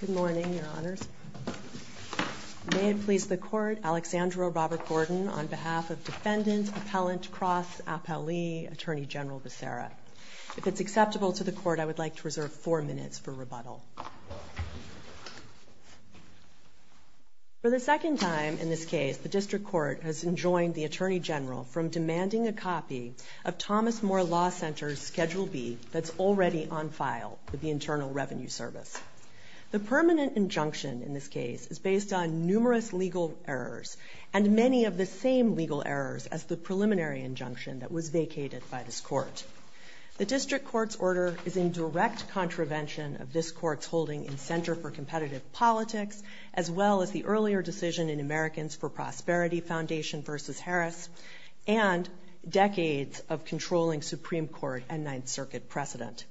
Good morning, Your Honors. May it please the Court, Alexandro Robert Gordon, on behalf of Defendant Appellant Cross Alpaoli, Attorney General Becerra. If it's acceptable to the Court, I would like to reserve four minutes for rebuttal. For the second time in this case, the District Court has enjoined the Attorney General from demanding a copy of Thomas More Law Center's Schedule B that's already on file with the Internal Revenue Service. The permanent injunction in this case is based on numerous legal errors, and many of the same legal errors as the preliminary injunction that was vacated by this Court. The District Court's order is in direct contravention of this Court's holding in Center for Competitive Politics, as well as the earlier decision in Americans for Prosperity Foundation v. Harris, and decades of controlling Supreme Court and Ninth Circuit precedent.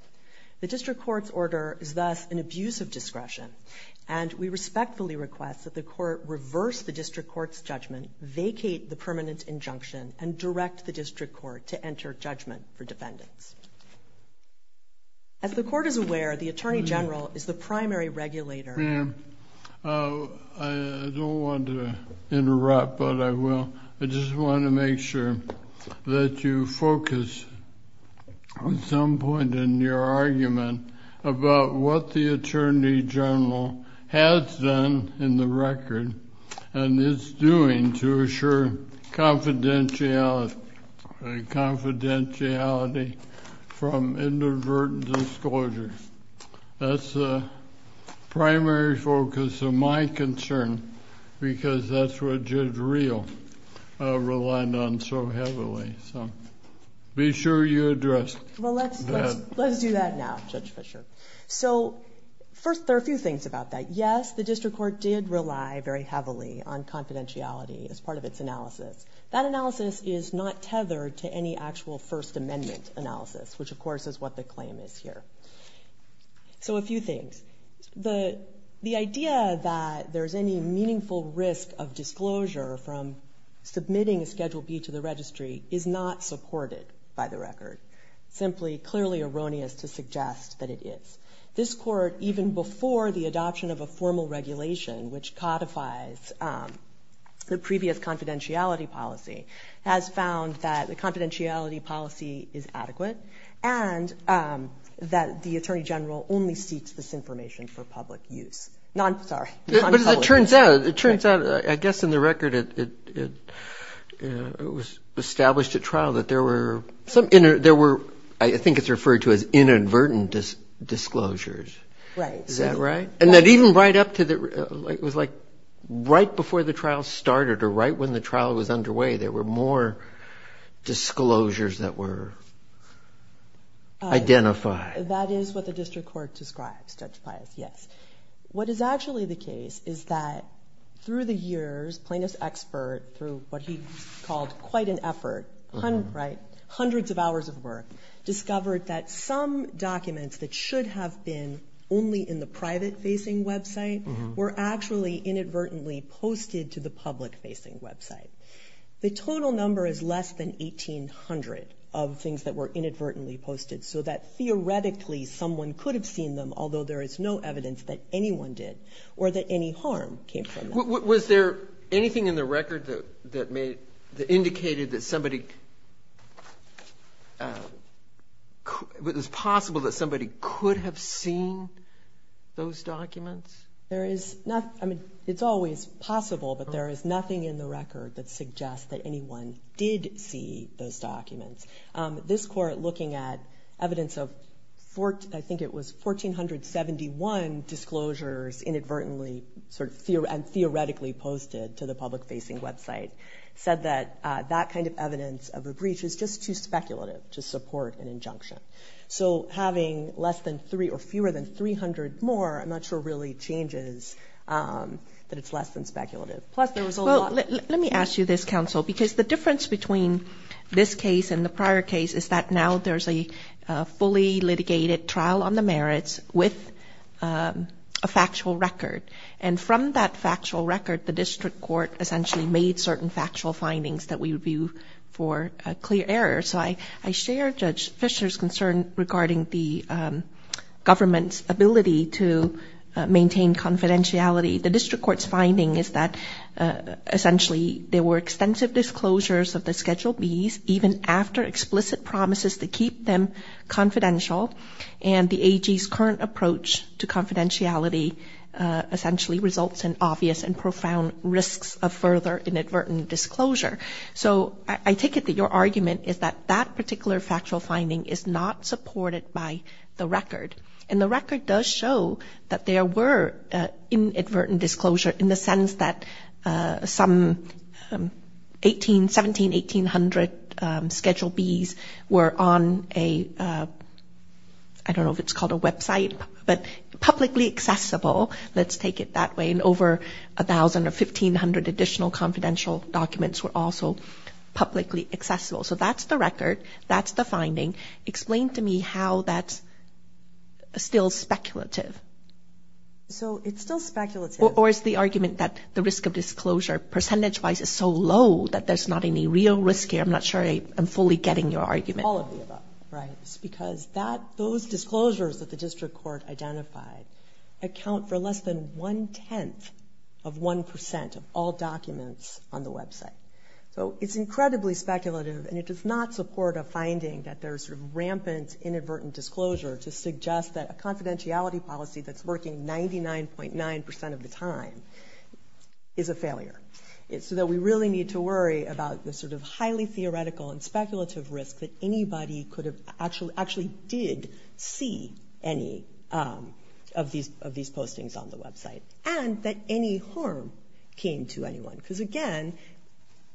The District Court's order is thus an abuse of discretion, and we respectfully request that the Court reverse the District Court's judgment, vacate the permanent injunction, and direct the District Court to enter judgment for defendants. As the Court is aware, the Attorney General is the primary regulator. Well, let's do that now, Judge Fischer. So, first, there are a few things about that. Yes, the District Court did rely very heavily on confidentiality as part of its analysis. That analysis is not tethered to any actual First Amendment analysis, which, of course, is what the claim is here. So, a few things. The idea that there's any meaningful risk of disclosure from submitting a Schedule B to the Registry is not supported by the record. Simply, clearly erroneous to suggest that it is. This Court, even before the adoption of a formal regulation which codifies the previous confidentiality policy, has found that the confidentiality policy is adequate, and that it the Attorney General only seeks this information for public use. But as it turns out, I guess in the record it was established at trial that there were, I think it's referred to as inadvertent disclosures. Is that right? And that even right up to, it was like right before the trial started, or right when the trial was underway, there were more disclosures that were identified. That is what the District Court describes, Judge Pius, yes. What is actually the case is that through the years, Plaintiff's expert, through what he called quite an effort, hundreds of hours of work, discovered that some documents that should have been only in the private-facing website were actually inadvertently posted to the public-facing website. The total number is less than 1,800 of things that were inadvertently posted, so that theoretically someone could have seen them, although there is no evidence that anyone did, or that any harm came from that. Was there anything in the record that indicated that somebody, it was possible that somebody could have seen those documents? There is nothing, I mean, it's always possible, but there is nothing in the record that suggests that anyone did see those documents. This Court, looking at evidence of, I think it was 1,471 disclosures inadvertently, sort of theoretically posted to the public-facing website, said that that kind of evidence of a breach is just too speculative to support an injunction. So having less than three, or fewer than 300 more, I'm not sure really changes that it's less than speculative. Let me ask you this, Counsel, because the difference between this case and the prior case is that now there's a fully litigated trial on the merits with a factual record. And from that factual record, the District Court essentially made certain factual findings that we would view for a clear error. So I share Judge Fischer's concern regarding the government's ability to maintain confidentiality. The District Court's finding is that essentially there were extensive disclosures of the Schedule Bs even after explicit promises to keep them confidential, and the AG's current approach to confidentiality essentially results in obvious and profound risks of further inadvertent disclosure. So I take it that your argument is that that particular factual finding is not supported by the record. And the record does show that there were inadvertent disclosure, in the sense that some 1,700, 1,800 Schedule Bs were on a, I don't know if it's called a website, but publicly accessible, let's take it that way, and over 1,000 or 1,500 additional confidential documents were also publicly accessible. So that's the record, that's the finding. Explain to me how that's still speculative. Or is the argument that the risk of disclosure percentage-wise is so low that there's not any real risk here? I'm not sure I'm fully getting your argument. All of the above. Right, it's because those disclosures that the district court identified account for less than one-tenth of one percent of all documents on the website. So it's incredibly speculative, and it does not support a finding that there's sort of rampant inadvertent disclosure to suggest that a confidentiality policy that's working 99.9 percent of the time is a failure. So that we really need to worry about the sort of highly theoretical and speculative risk that anybody actually did see any of these postings on the website, and that any harm came to anyone. Because again,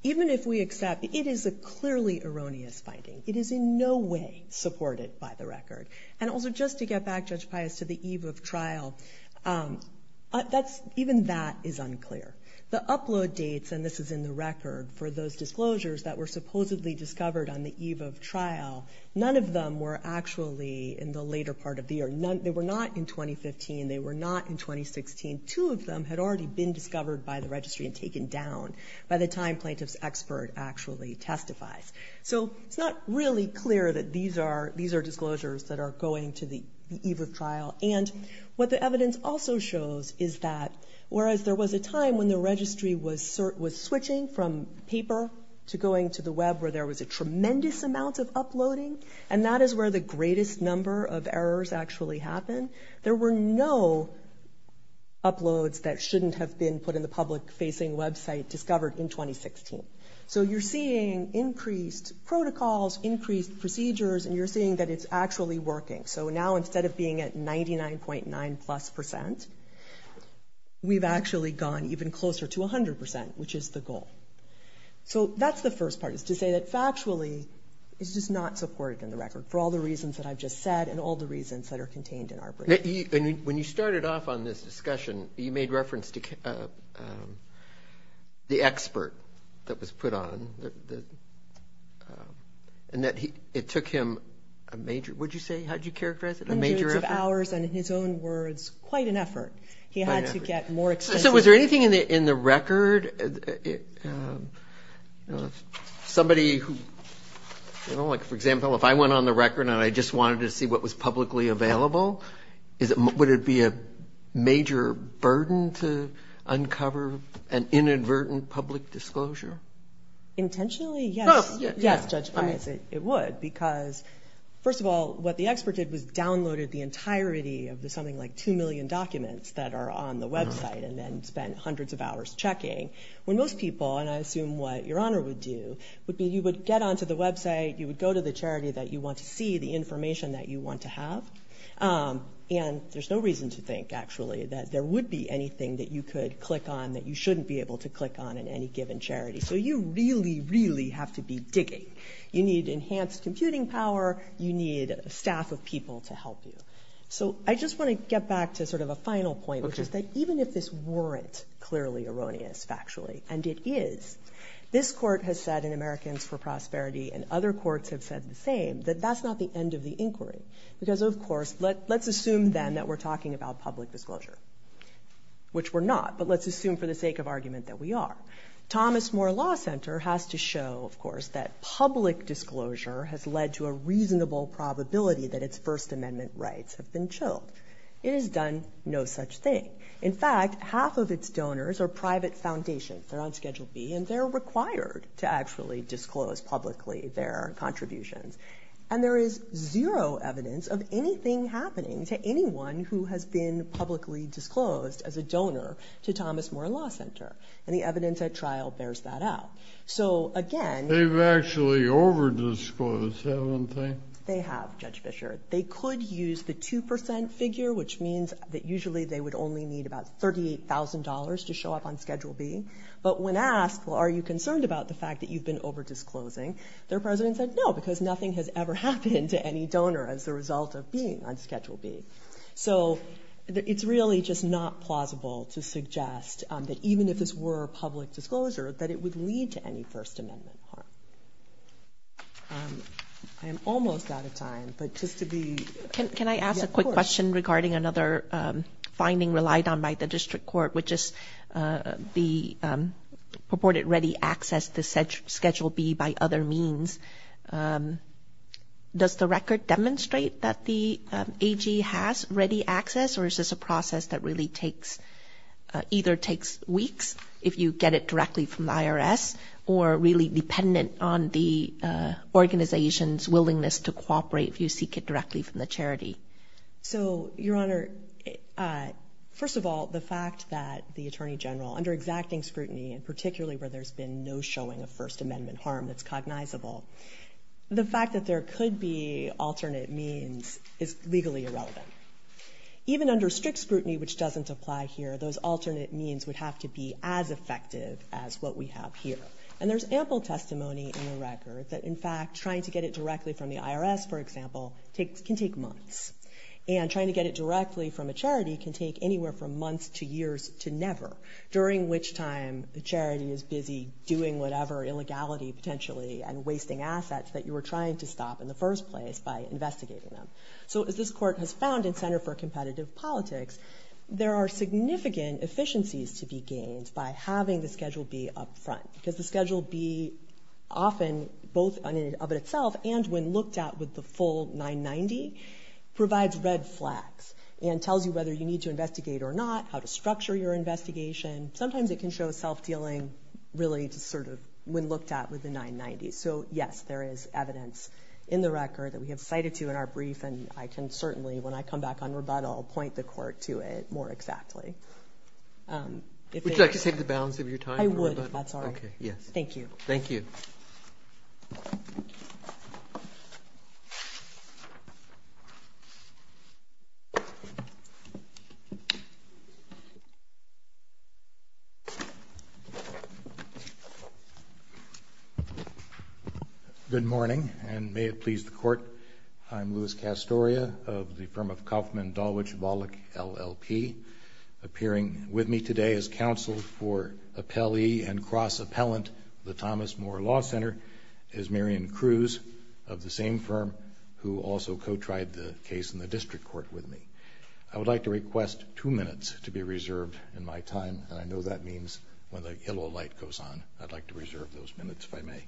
even if we accept it is a clearly erroneous finding. It is in no way supported by the record. And also just to get back, Judge Pius, to the eve of trial, even that is unclear. The upload dates, and this is in the record, for those disclosures that were supposedly discovered on the eve of trial, none of them were actually in the later part of the year. They were not in 2015. They were not in 2016. Two of them had already been discovered by the registry and taken down by the time plaintiff's expert actually testifies. So it's not really clear that these are disclosures that are going to the eve of trial. And what the evidence also shows is that whereas there was a time when the registry was switching from paper to going to the web where there was a tremendous amount of uploading, and that is where the greatest number of errors actually happen, there were no uploads that shouldn't have been put in the public-facing website discovered in 2016. So you're seeing increased protocols, increased procedures, and you're seeing that it's actually working. So now instead of being at 99.9 plus percent, we've actually gone even closer to 100 percent, which is the goal. So that's the first part, is to say that factually it's just not supported in the record for all the reasons that I've just said and all the reasons that are contained in our brief. When you started off on this discussion, you made reference to the expert that was put on and that it took him a major, what did you say, how did you characterize it, a major effort? Hundreds of hours, and in his own words, quite an effort. He had to get more extensive. So was there anything in the record, somebody who, you know, like for example, if I went on the record and I just wanted to see what was publicly available, would it be a major burden to uncover an inadvertent public disclosure? Potentially, yes. Yes, Judge Price, it would. Because first of all, what the expert did was downloaded the entirety of the something like two million documents that are on the website and then spent hundreds of hours checking. When most people, and I assume what Your Honor would do, would be you would get onto the website, you would go to the charity that you want to see the information that you want to have, and there's no reason to think actually that there would be anything that you could click on that you shouldn't be able to click on in any given charity. So you really, really have to be digging. You need enhanced computing power. You need a staff of people to help you. So I just want to get back to sort of a final point, which is that even if this weren't clearly erroneous factually, and it is, this Court has said in Americans for Prosperity and other courts have said the same, that that's not the end of the inquiry. Because of course, let's assume then that we're talking about public disclosure, which we're not, but let's assume for the sake of argument that we are. Thomas More Law Center has to show, of course, that public disclosure has led to a reasonable probability that its First Amendment rights have been chilled. It has done no such thing. In fact, half of its donors are private foundations. They're on Schedule B, and they're required to actually disclose publicly their contributions. And there is zero evidence of anything happening to anyone who has been publicly disclosed as a donor to Thomas More Law Center. And the evidence at trial bears that out. So again... They've actually over disclosed, haven't they? They have, Judge Fischer. They could use the 2% figure, which means that usually they would only need about $38,000 to show up on Schedule B. But when asked, well, are you concerned about the fact that you've been over disclosing? Their president said no, because nothing has ever happened to any donor as a result of being on Schedule B. So it's really just not plausible to suggest that even if this were a public disclosure, that it would lead to any First Amendment harm. I am almost out of time, but just to be... Can I ask a quick question regarding another finding relied on by the district court, which is the purported ready access to Schedule B by other means? Does the record demonstrate that the AG has ready access, or is this a process that really takes... Either takes weeks if you get it directly from the IRS, or really dependent on the organization's willingness to cooperate if you seek it directly from the charity? So, Your Honor, first of all, the fact that the Attorney General, under exacting scrutiny, and particularly where there's been no showing of First Amendment harm that's cognizable, the fact that there could be alternate means is legally irrelevant. Even under strict scrutiny, which doesn't apply here, those alternate means would have to be as effective as what we have here. And there's ample testimony in the record that, in fact, trying to get it directly from the IRS, for example, can take months. And trying to get it directly from a charity can take anywhere from months to years to never, during which time the charity is busy doing whatever illegality, potentially, and wasting assets that you were trying to stop in the first place by investigating them. So, as this Court has found in Center for Competitive Politics, there are significant efficiencies to be gained by having the schedule B up front. Because the schedule B, often, both of itself and when looked at with the full 990, provides red flags and tells you whether you need to investigate or not, how to structure your investigation. Sometimes it can show self-dealing, really, when looked at with the 990. So, yes, there is evidence in the record that we have cited to in our brief, and I can certainly, when I come back on rebuttal, point the Court to it more exactly. Would you like to save the balance of your time? I would, if that's all right. Okay, yes. Thank you. Thank you. Good morning, and may it please the Court. I'm Louis Castoria of the firm of Kauffman, Dulwich, Wallach, LLP. Appearing with me today as counsel for appellee and cross-appellant, the Thomas Moore Law Center, is Mirian Cruz of the same firm, who also co-tried the case in the district court with me. I would like to request two minutes to be reserved in my time, and I know that means when the yellow light goes on. I'd like to reserve those minutes, if I may.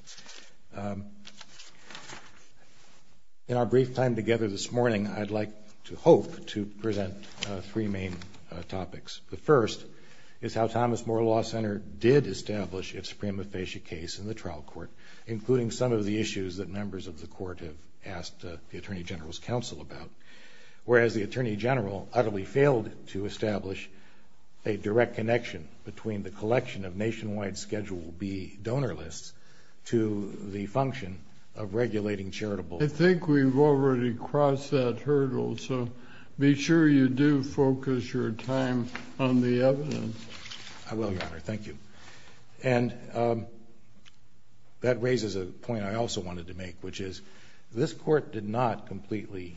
In our brief time together this morning, I'd like to hope to present three main topics. The first is how Thomas Moore Law Center did establish its suprema facie case in the trial court, including some of the issues that members of the Court have asked the Attorney General's counsel about. Whereas the Attorney General utterly failed to establish a direct connection between the collection of nationwide Schedule B donor lists to the function of regulating charitable. I think we've already crossed that hurdle, so be sure you do focus your time on the evidence. I will, Your Honor. Thank you. And that raises a point I also wanted to make, which is this Court did not completely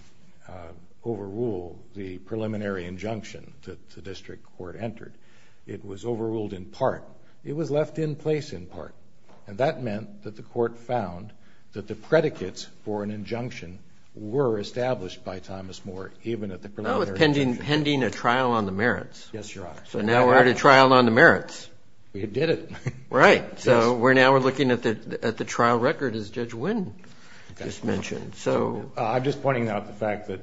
overrule the preliminary injunction that the district court entered. It was overruled in part. It was left in place in part. And that meant that the Court found that the predicates for an injunction were established by Thomas Moore, even at the preliminary injunction. That was pending a trial on the merits. Yes, Your Honor. So now we're at a trial on the merits. We did it. Right. So now we're looking at the trial record, as Judge Wynn just mentioned. I'm just pointing out the fact that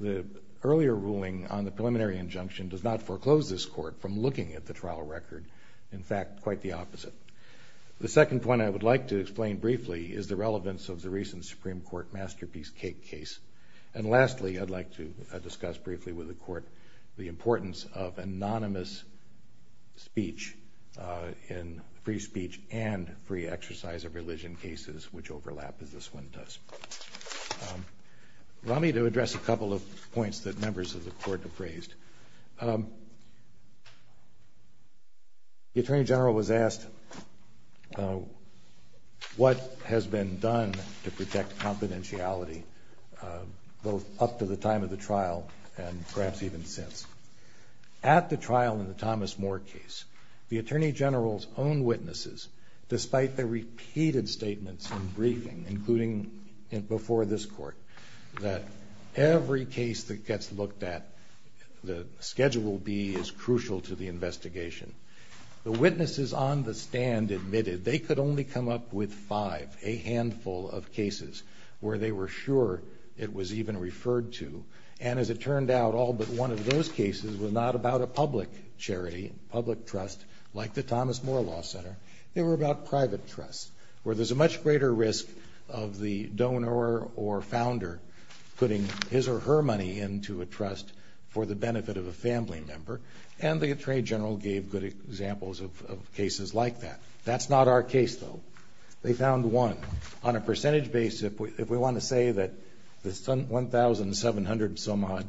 the earlier ruling on the preliminary injunction does not foreclose this Court from looking at the trial record. In fact, quite the opposite. The second point I would like to explain briefly is the relevance of the recent Supreme Court Masterpiece Cake case. And lastly, I'd like to discuss briefly with the Court the importance of anonymous speech in free speech and free exercise of religion cases, which overlap, as this one does. Allow me to address a couple of points that members of the Court have raised. The Attorney General was asked what has been done to protect confidentiality, both up to the time of the trial and perhaps even since. At the trial in the Thomas Moore case, the Attorney General's own witnesses, despite their repeated statements in briefing, including before this Court, that every case that gets looked at, the schedule B, is crucial to the investigation. The witnesses on the stand admitted they could only come up with five, a handful of cases, where they were sure it was even referred to. And as it turned out, all but one of those cases was not about a public charity, public trust, like the Thomas Moore Law Center. They were about private trust, where there's a much greater risk of the donor or founder putting his or her money into a trust for the benefit of a family member. And the Attorney General gave good examples of cases like that. That's not our case, though. They found one. On a percentage basis, if we want to say that the 1,700-some-odd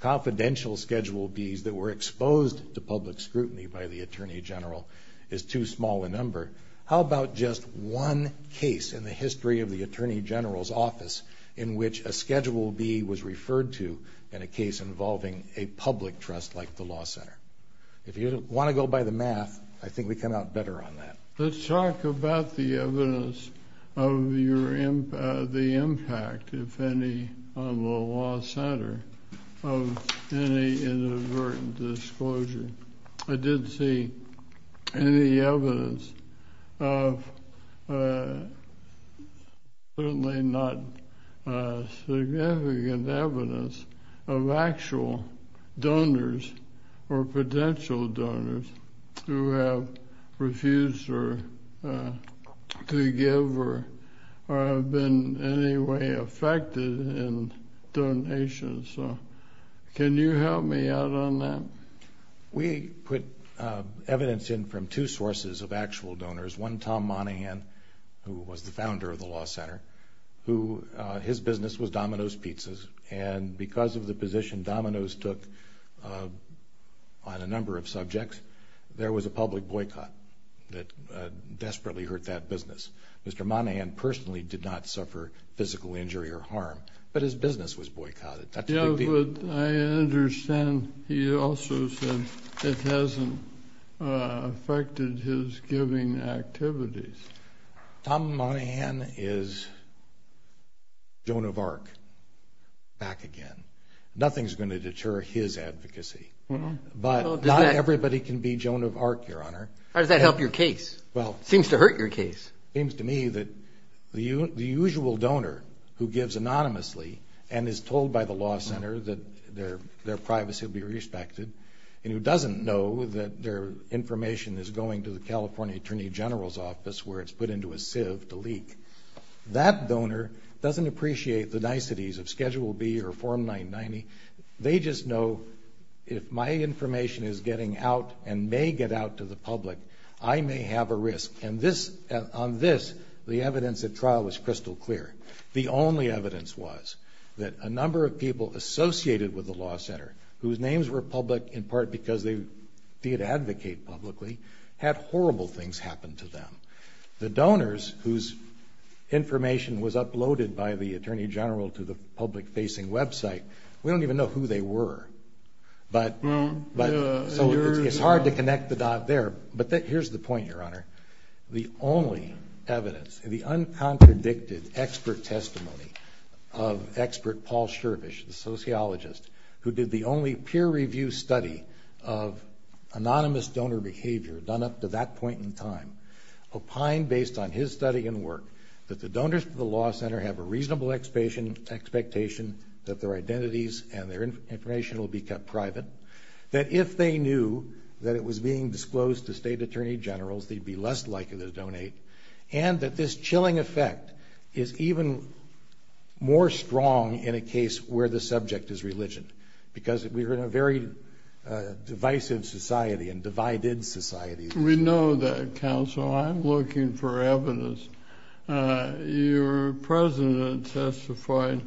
confidential schedule Bs that were exposed to public scrutiny by the Attorney General is too small a number, how about just one case in the history of the Attorney General's office in which a schedule B was referred to in a case involving a public trust like the Law Center? If you want to go by the math, I think we come out better on that. Let's talk about the evidence of the impact, if any, on the Law Center of any inadvertent disclosure. I didn't see any evidence of, certainly not significant evidence, of actual donors or potential donors who have refused to give or have been in any way affected in donations. Can you help me out on that? We put evidence in from two sources of actual donors, one, Tom Monahan, who was the founder of the Law Center. His business was Domino's Pizzas, and because of the position Domino's took on a number of subjects, there was a public boycott that desperately hurt that business. Mr. Monahan personally did not suffer physical injury or harm, but his business was boycotted. I understand he also said it hasn't affected his giving activities. Tom Monahan is Joan of Arc back again. Nothing is going to deter his advocacy, but not everybody can be Joan of Arc, Your Honor. How does that help your case? It seems to hurt your case. It seems to me that the usual donor who gives anonymously and is told by the Law Center that their privacy will be respected and who doesn't know that their information is going to the California Attorney General's office where it's put into a sieve to leak, that donor doesn't appreciate the niceties of Schedule B or Form 990. They just know if my information is getting out and may get out to the public, I may have a risk. And on this, the evidence at trial is crystal clear. The only evidence was that a number of people associated with the Law Center whose names were public in part because they did advocate publicly, had horrible things happen to them. The donors whose information was uploaded by the Attorney General to the public-facing website, we don't even know who they were. So it's hard to connect the dot there. But here's the point, Your Honor. The only evidence, the uncontradicted expert testimony of expert Paul Shervish, the sociologist who did the only peer-review study of anonymous donor behavior done up to that point in time, opined based on his study and work that the donors to the Law Center have a reasonable expectation that their identities and their information will be kept private, that if they knew that it was being disclosed to State Attorney Generals, they'd be less likely to donate, and that this chilling effect is even more strong in a case where the subject is religion because we're in a very divisive society and divided society. We know that, counsel. I'm looking for evidence. Your president testified,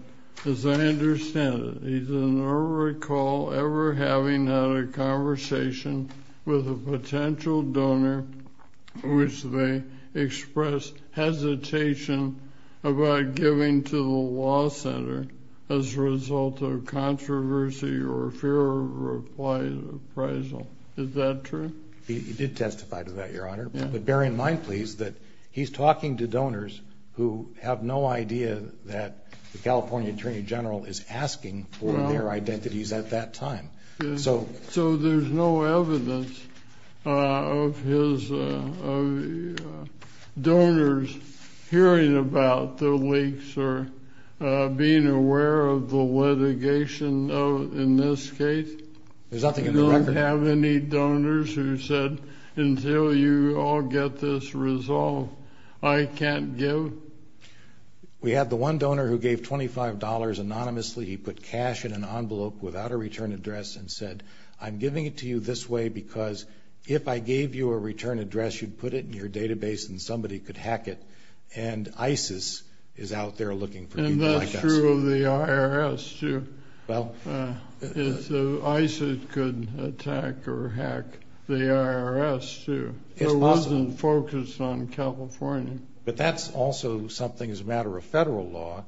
as I understand it, he doesn't recall ever having had a conversation with a potential donor in which they expressed hesitation about giving to the Law Center as a result of controversy or fear of reprisal. Is that true? He did testify to that, Your Honor. But bear in mind, please, that he's talking to donors who have no idea that the California Attorney General is asking for their identities at that time. So there's no evidence of donors hearing about the leaks or being aware of the litigation in this case? There's nothing in the record. Do you have any donors who said, until you all get this resolved, I can't give? We have the one donor who gave $25 anonymously. He put cash in an envelope without a return address and said, I'm giving it to you this way because if I gave you a return address, you'd put it in your database and somebody could hack it. And ISIS is out there looking for people like us. And that's true of the IRS, too. ISIS could attack or hack the IRS, too. It wasn't focused on California. But that's also something as a matter of federal law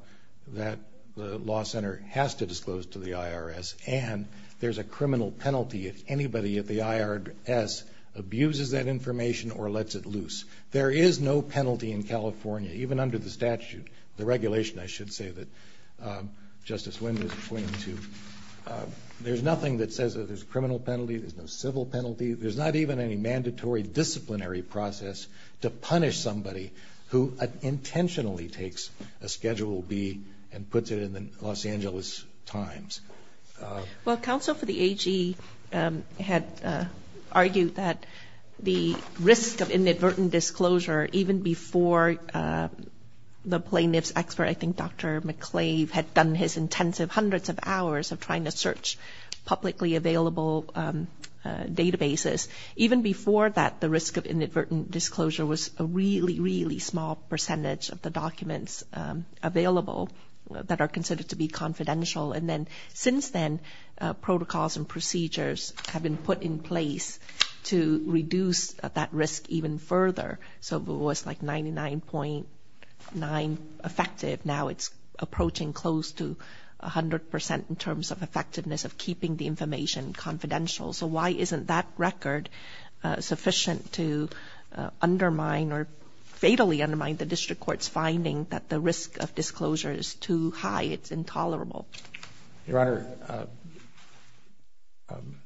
that the law center has to disclose to the IRS. And there's a criminal penalty if anybody at the IRS abuses that information or lets it loose. There is no penalty in California, even under the statute, the regulation, I should say, that Justice Windham is pointing to. There's nothing that says there's a criminal penalty, there's no civil penalty. There's not even any mandatory disciplinary process to punish somebody who intentionally takes a Schedule B and puts it in the Los Angeles Times. Well, counsel for the AG had argued that the risk of inadvertent disclosure, even before the plaintiff's expert, I think Dr. McClave, had done his intensive hundreds of hours of trying to search publicly available databases, even before that the risk of inadvertent disclosure was a really, really small percentage of the documents available that are considered to be confidential. And then since then, protocols and procedures have been put in place to reduce that risk even further. So it was like 99.9% effective. Now it's approaching close to 100% in terms of effectiveness of keeping the information confidential. So why isn't that record sufficient to undermine or fatally undermine the district court's finding that the risk of disclosure is too high, it's intolerable? Your Honor,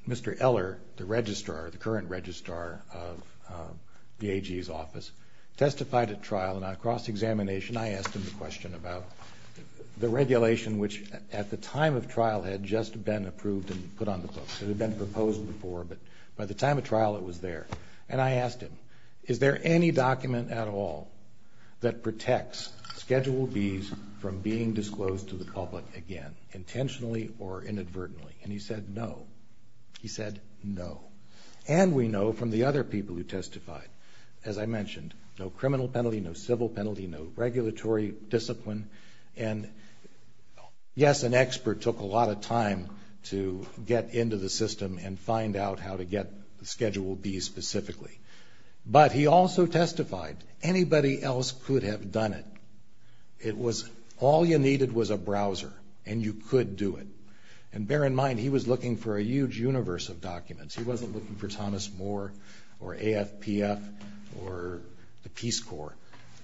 Mr. Eller, the registrar, the current registrar of the AG's office, testified at trial in a cross-examination. I asked him the question about the regulation, which at the time of trial had just been approved and put on the books. It had been proposed before, but by the time of trial it was there. And I asked him, is there any document at all that protects Schedule Bs from being disclosed to the public again, intentionally or inadvertently? And he said no. He said no. And we know from the other people who testified, as I mentioned, no criminal penalty, no civil penalty, no regulatory discipline. And yes, an expert took a lot of time to get into the system and find out how to get Schedule Bs specifically. But he also testified, anybody else could have done it. It was all you needed was a browser, and you could do it. And bear in mind, he was looking for a huge universe of documents. He wasn't looking for Thomas More or AFPF or the Peace Corps.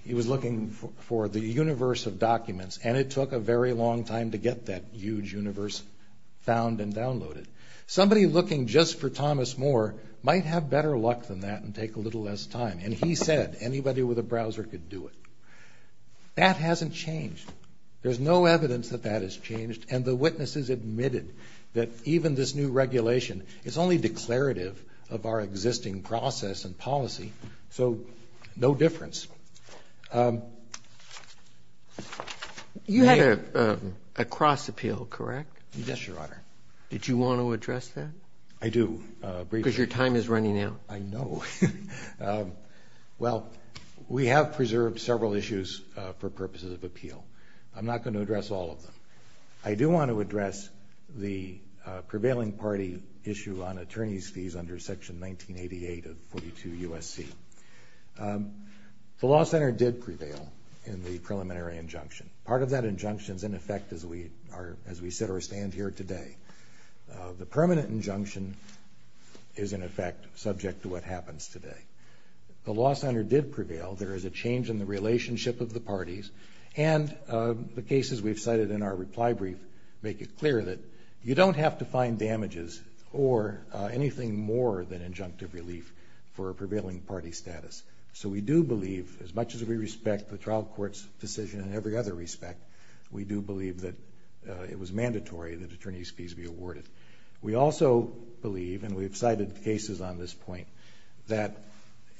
He was looking for the universe of documents. And it took a very long time to get that huge universe found and downloaded. Somebody looking just for Thomas More might have better luck than that and take a little less time. And he said anybody with a browser could do it. That hasn't changed. There's no evidence that that has changed. And the witnesses admitted that even this new regulation is only declarative of our existing process and policy. So no difference. You had a cross appeal, correct? Yes, Your Honor. Did you want to address that? I do. Because your time is running out. I know. Well, we have preserved several issues for purposes of appeal. I'm not going to address all of them. I do want to address the prevailing party issue on attorney's fees under Section 1988 of 42 U.S.C. The law center did prevail in the preliminary injunction. Part of that injunction is, in effect, as we sit or stand here today. The permanent injunction is, in effect, subject to what happens today. The law center did prevail. There is a change in the relationship of the parties. And the cases we've cited in our reply brief make it clear that you don't have to find damages or anything more than injunctive relief for a prevailing party status. So we do believe, as much as we respect the trial court's decision in every other respect, we do believe that it was mandatory that attorney's fees be awarded. We also believe, and we've cited cases on this point, that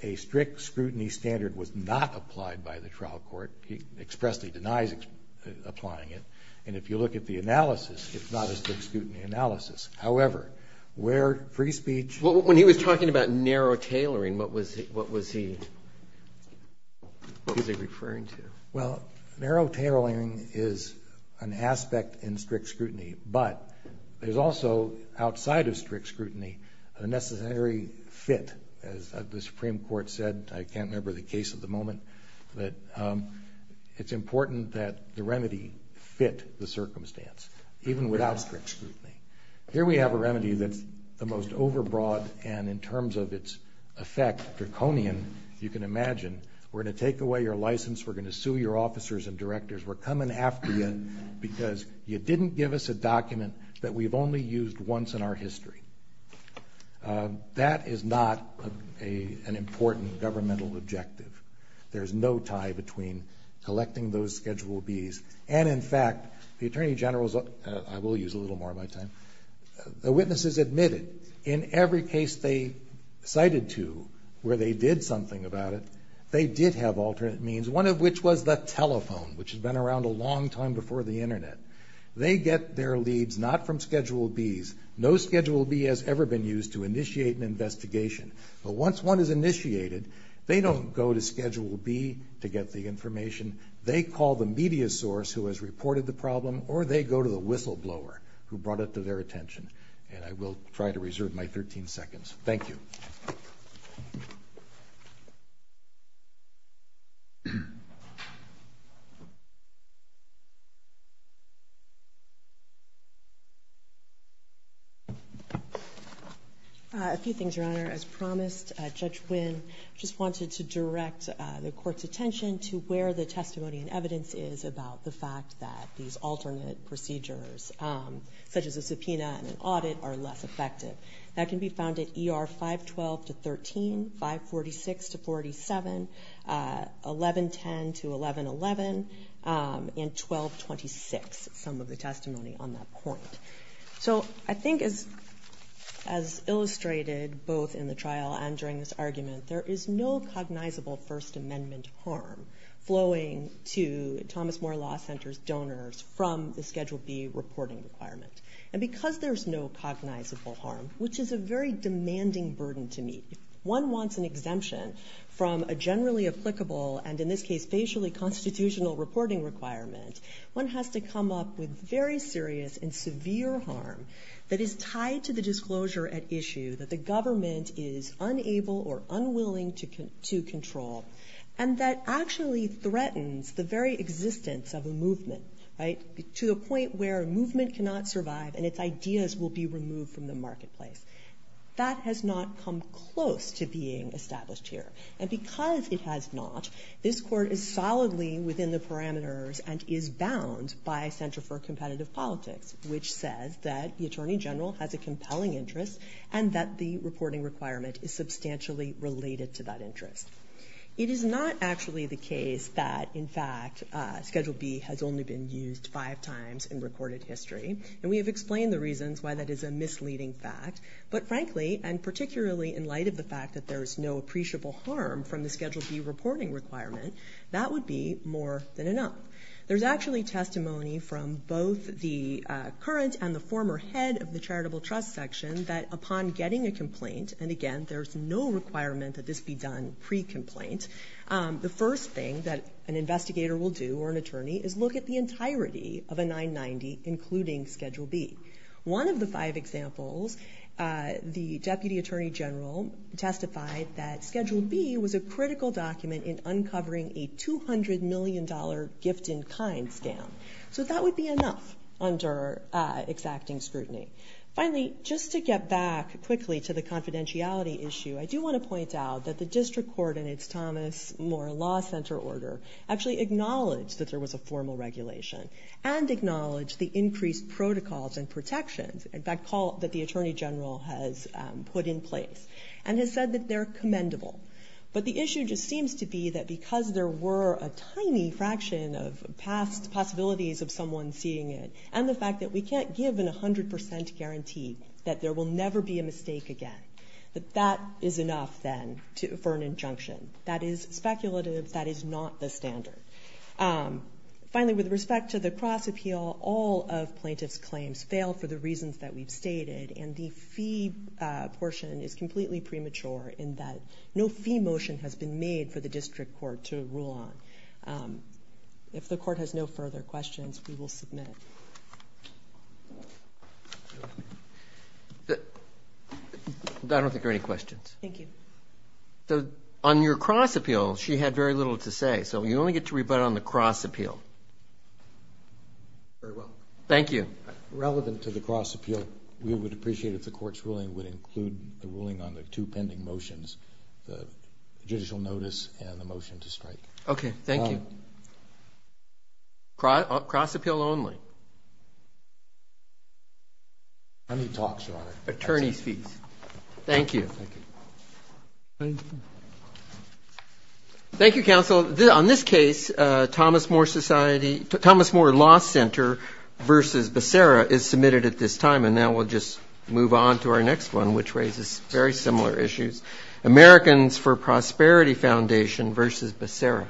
a strict scrutiny standard was not applied by the trial court. He expressly denies applying it. And if you look at the analysis, it's not a strict scrutiny analysis. However, where free speech... When he was talking about narrow tailoring, what was he referring to? Well, narrow tailoring is an aspect in strict scrutiny. But there's also, outside of strict scrutiny, a necessary fit. As the Supreme Court said, I can't remember the case at the moment, but it's important that the remedy fit the circumstance, even without strict scrutiny. Here we have a remedy that's the most overbroad, and in terms of its effect, draconian, you can imagine. We're going to take away your license. We're going to sue your officers and directors. We're coming after you because you didn't give us a document that we've only used once in our history. That is not an important governmental objective. There's no tie between collecting those Schedule Bs. And, in fact, the attorney general's... I will use a little more of my time. The witnesses admitted in every case they cited to where they did something about it, they did have alternate means, one of which was the telephone, which has been around a long time before the Internet. They get their leads not from Schedule Bs. No Schedule B has ever been used to initiate an investigation. But once one is initiated, they don't go to Schedule B to get the information. They call the media source who has reported the problem, or they go to the whistleblower who brought it to their attention. And I will try to reserve my 13 seconds. Thank you. A few things, Your Honor. As promised, Judge Wynn just wanted to direct the Court's attention to where the testimony and evidence is about the fact that these alternate procedures, such as a subpoena and an audit, are less effective. That can be found at ER 512-13, 546-47, 1110-1111, and 1226, some of the testimony on that point. So I think as illustrated both in the trial and during this argument, there is no cognizable First Amendment harm flowing to Thomas Moore Law Center's donors from the Schedule B reporting requirement. And because there's no cognizable harm, which is a very demanding burden to meet, if one wants an exemption from a generally applicable and, in this case, facially constitutional reporting requirement, one has to come up with very serious and severe harm that is tied to the disclosure at issue that the government is unable or unwilling to control and that actually threatens the very existence of a movement, right, to the point where a movement cannot survive and its ideas will be removed from the marketplace. That has not come close to being established here. And because it has not, this Court is solidly within the parameters and is bound by a Center for Competitive Politics, which says that the Attorney General has a compelling interest and that the reporting requirement is substantially related to that interest. It is not actually the case that, in fact, Schedule B has only been used five times in recorded history. And we have explained the reasons why that is a misleading fact. But frankly, and particularly in light of the fact that there is no appreciable harm from the Schedule B reporting requirement, that would be more than enough. There's actually testimony from both the current and the former head of the Charitable Trust Section that upon getting a complaint, and again, there's no requirement that this be done pre-complaint, the first thing that an investigator will do or an attorney is look at the entirety of a 990, including Schedule B. One of the five examples, the Deputy Attorney General testified that Schedule B was a critical document in uncovering a $200 million gift-in-kind scam. So that would be enough under exacting scrutiny. Finally, just to get back quickly to the confidentiality issue, I do want to point out that the District Court in its Thomas Moore Law Center order actually acknowledged that there was a formal regulation and acknowledged the increased protocols and protections that the Attorney General has put in place and has said that they're commendable. But the issue just seems to be that because there were a tiny fraction of past possibilities of someone seeing it and the fact that we can't give a 100% guarantee that there will never be a mistake again, that that is enough then for an injunction. That is speculative. That is not the standard. Finally, with respect to the cross-appeal, all of plaintiff's claims fail for the reasons that we've stated, and the fee portion is completely premature in that no fee motion has been made for the District Court to rule on. If the Court has no further questions, we will submit. I don't think there are any questions. Thank you. On your cross-appeal, she had very little to say, so you only get to rebut on the cross-appeal. Very well. Thank you. Relevant to the cross-appeal, we would appreciate if the Court's ruling would include the ruling on the two pending motions, the judicial notice and the motion to strike. Okay. Thank you. Cross-appeal only. I need talks, Your Honor. Attorney's fees. Thank you. Thank you. Thank you, Counsel. On this case, Thomas More Law Center v. Becerra is submitted at this time, and now we'll just move on to our next one, which raises very similar issues. Americans for Prosperity Foundation v. Becerra.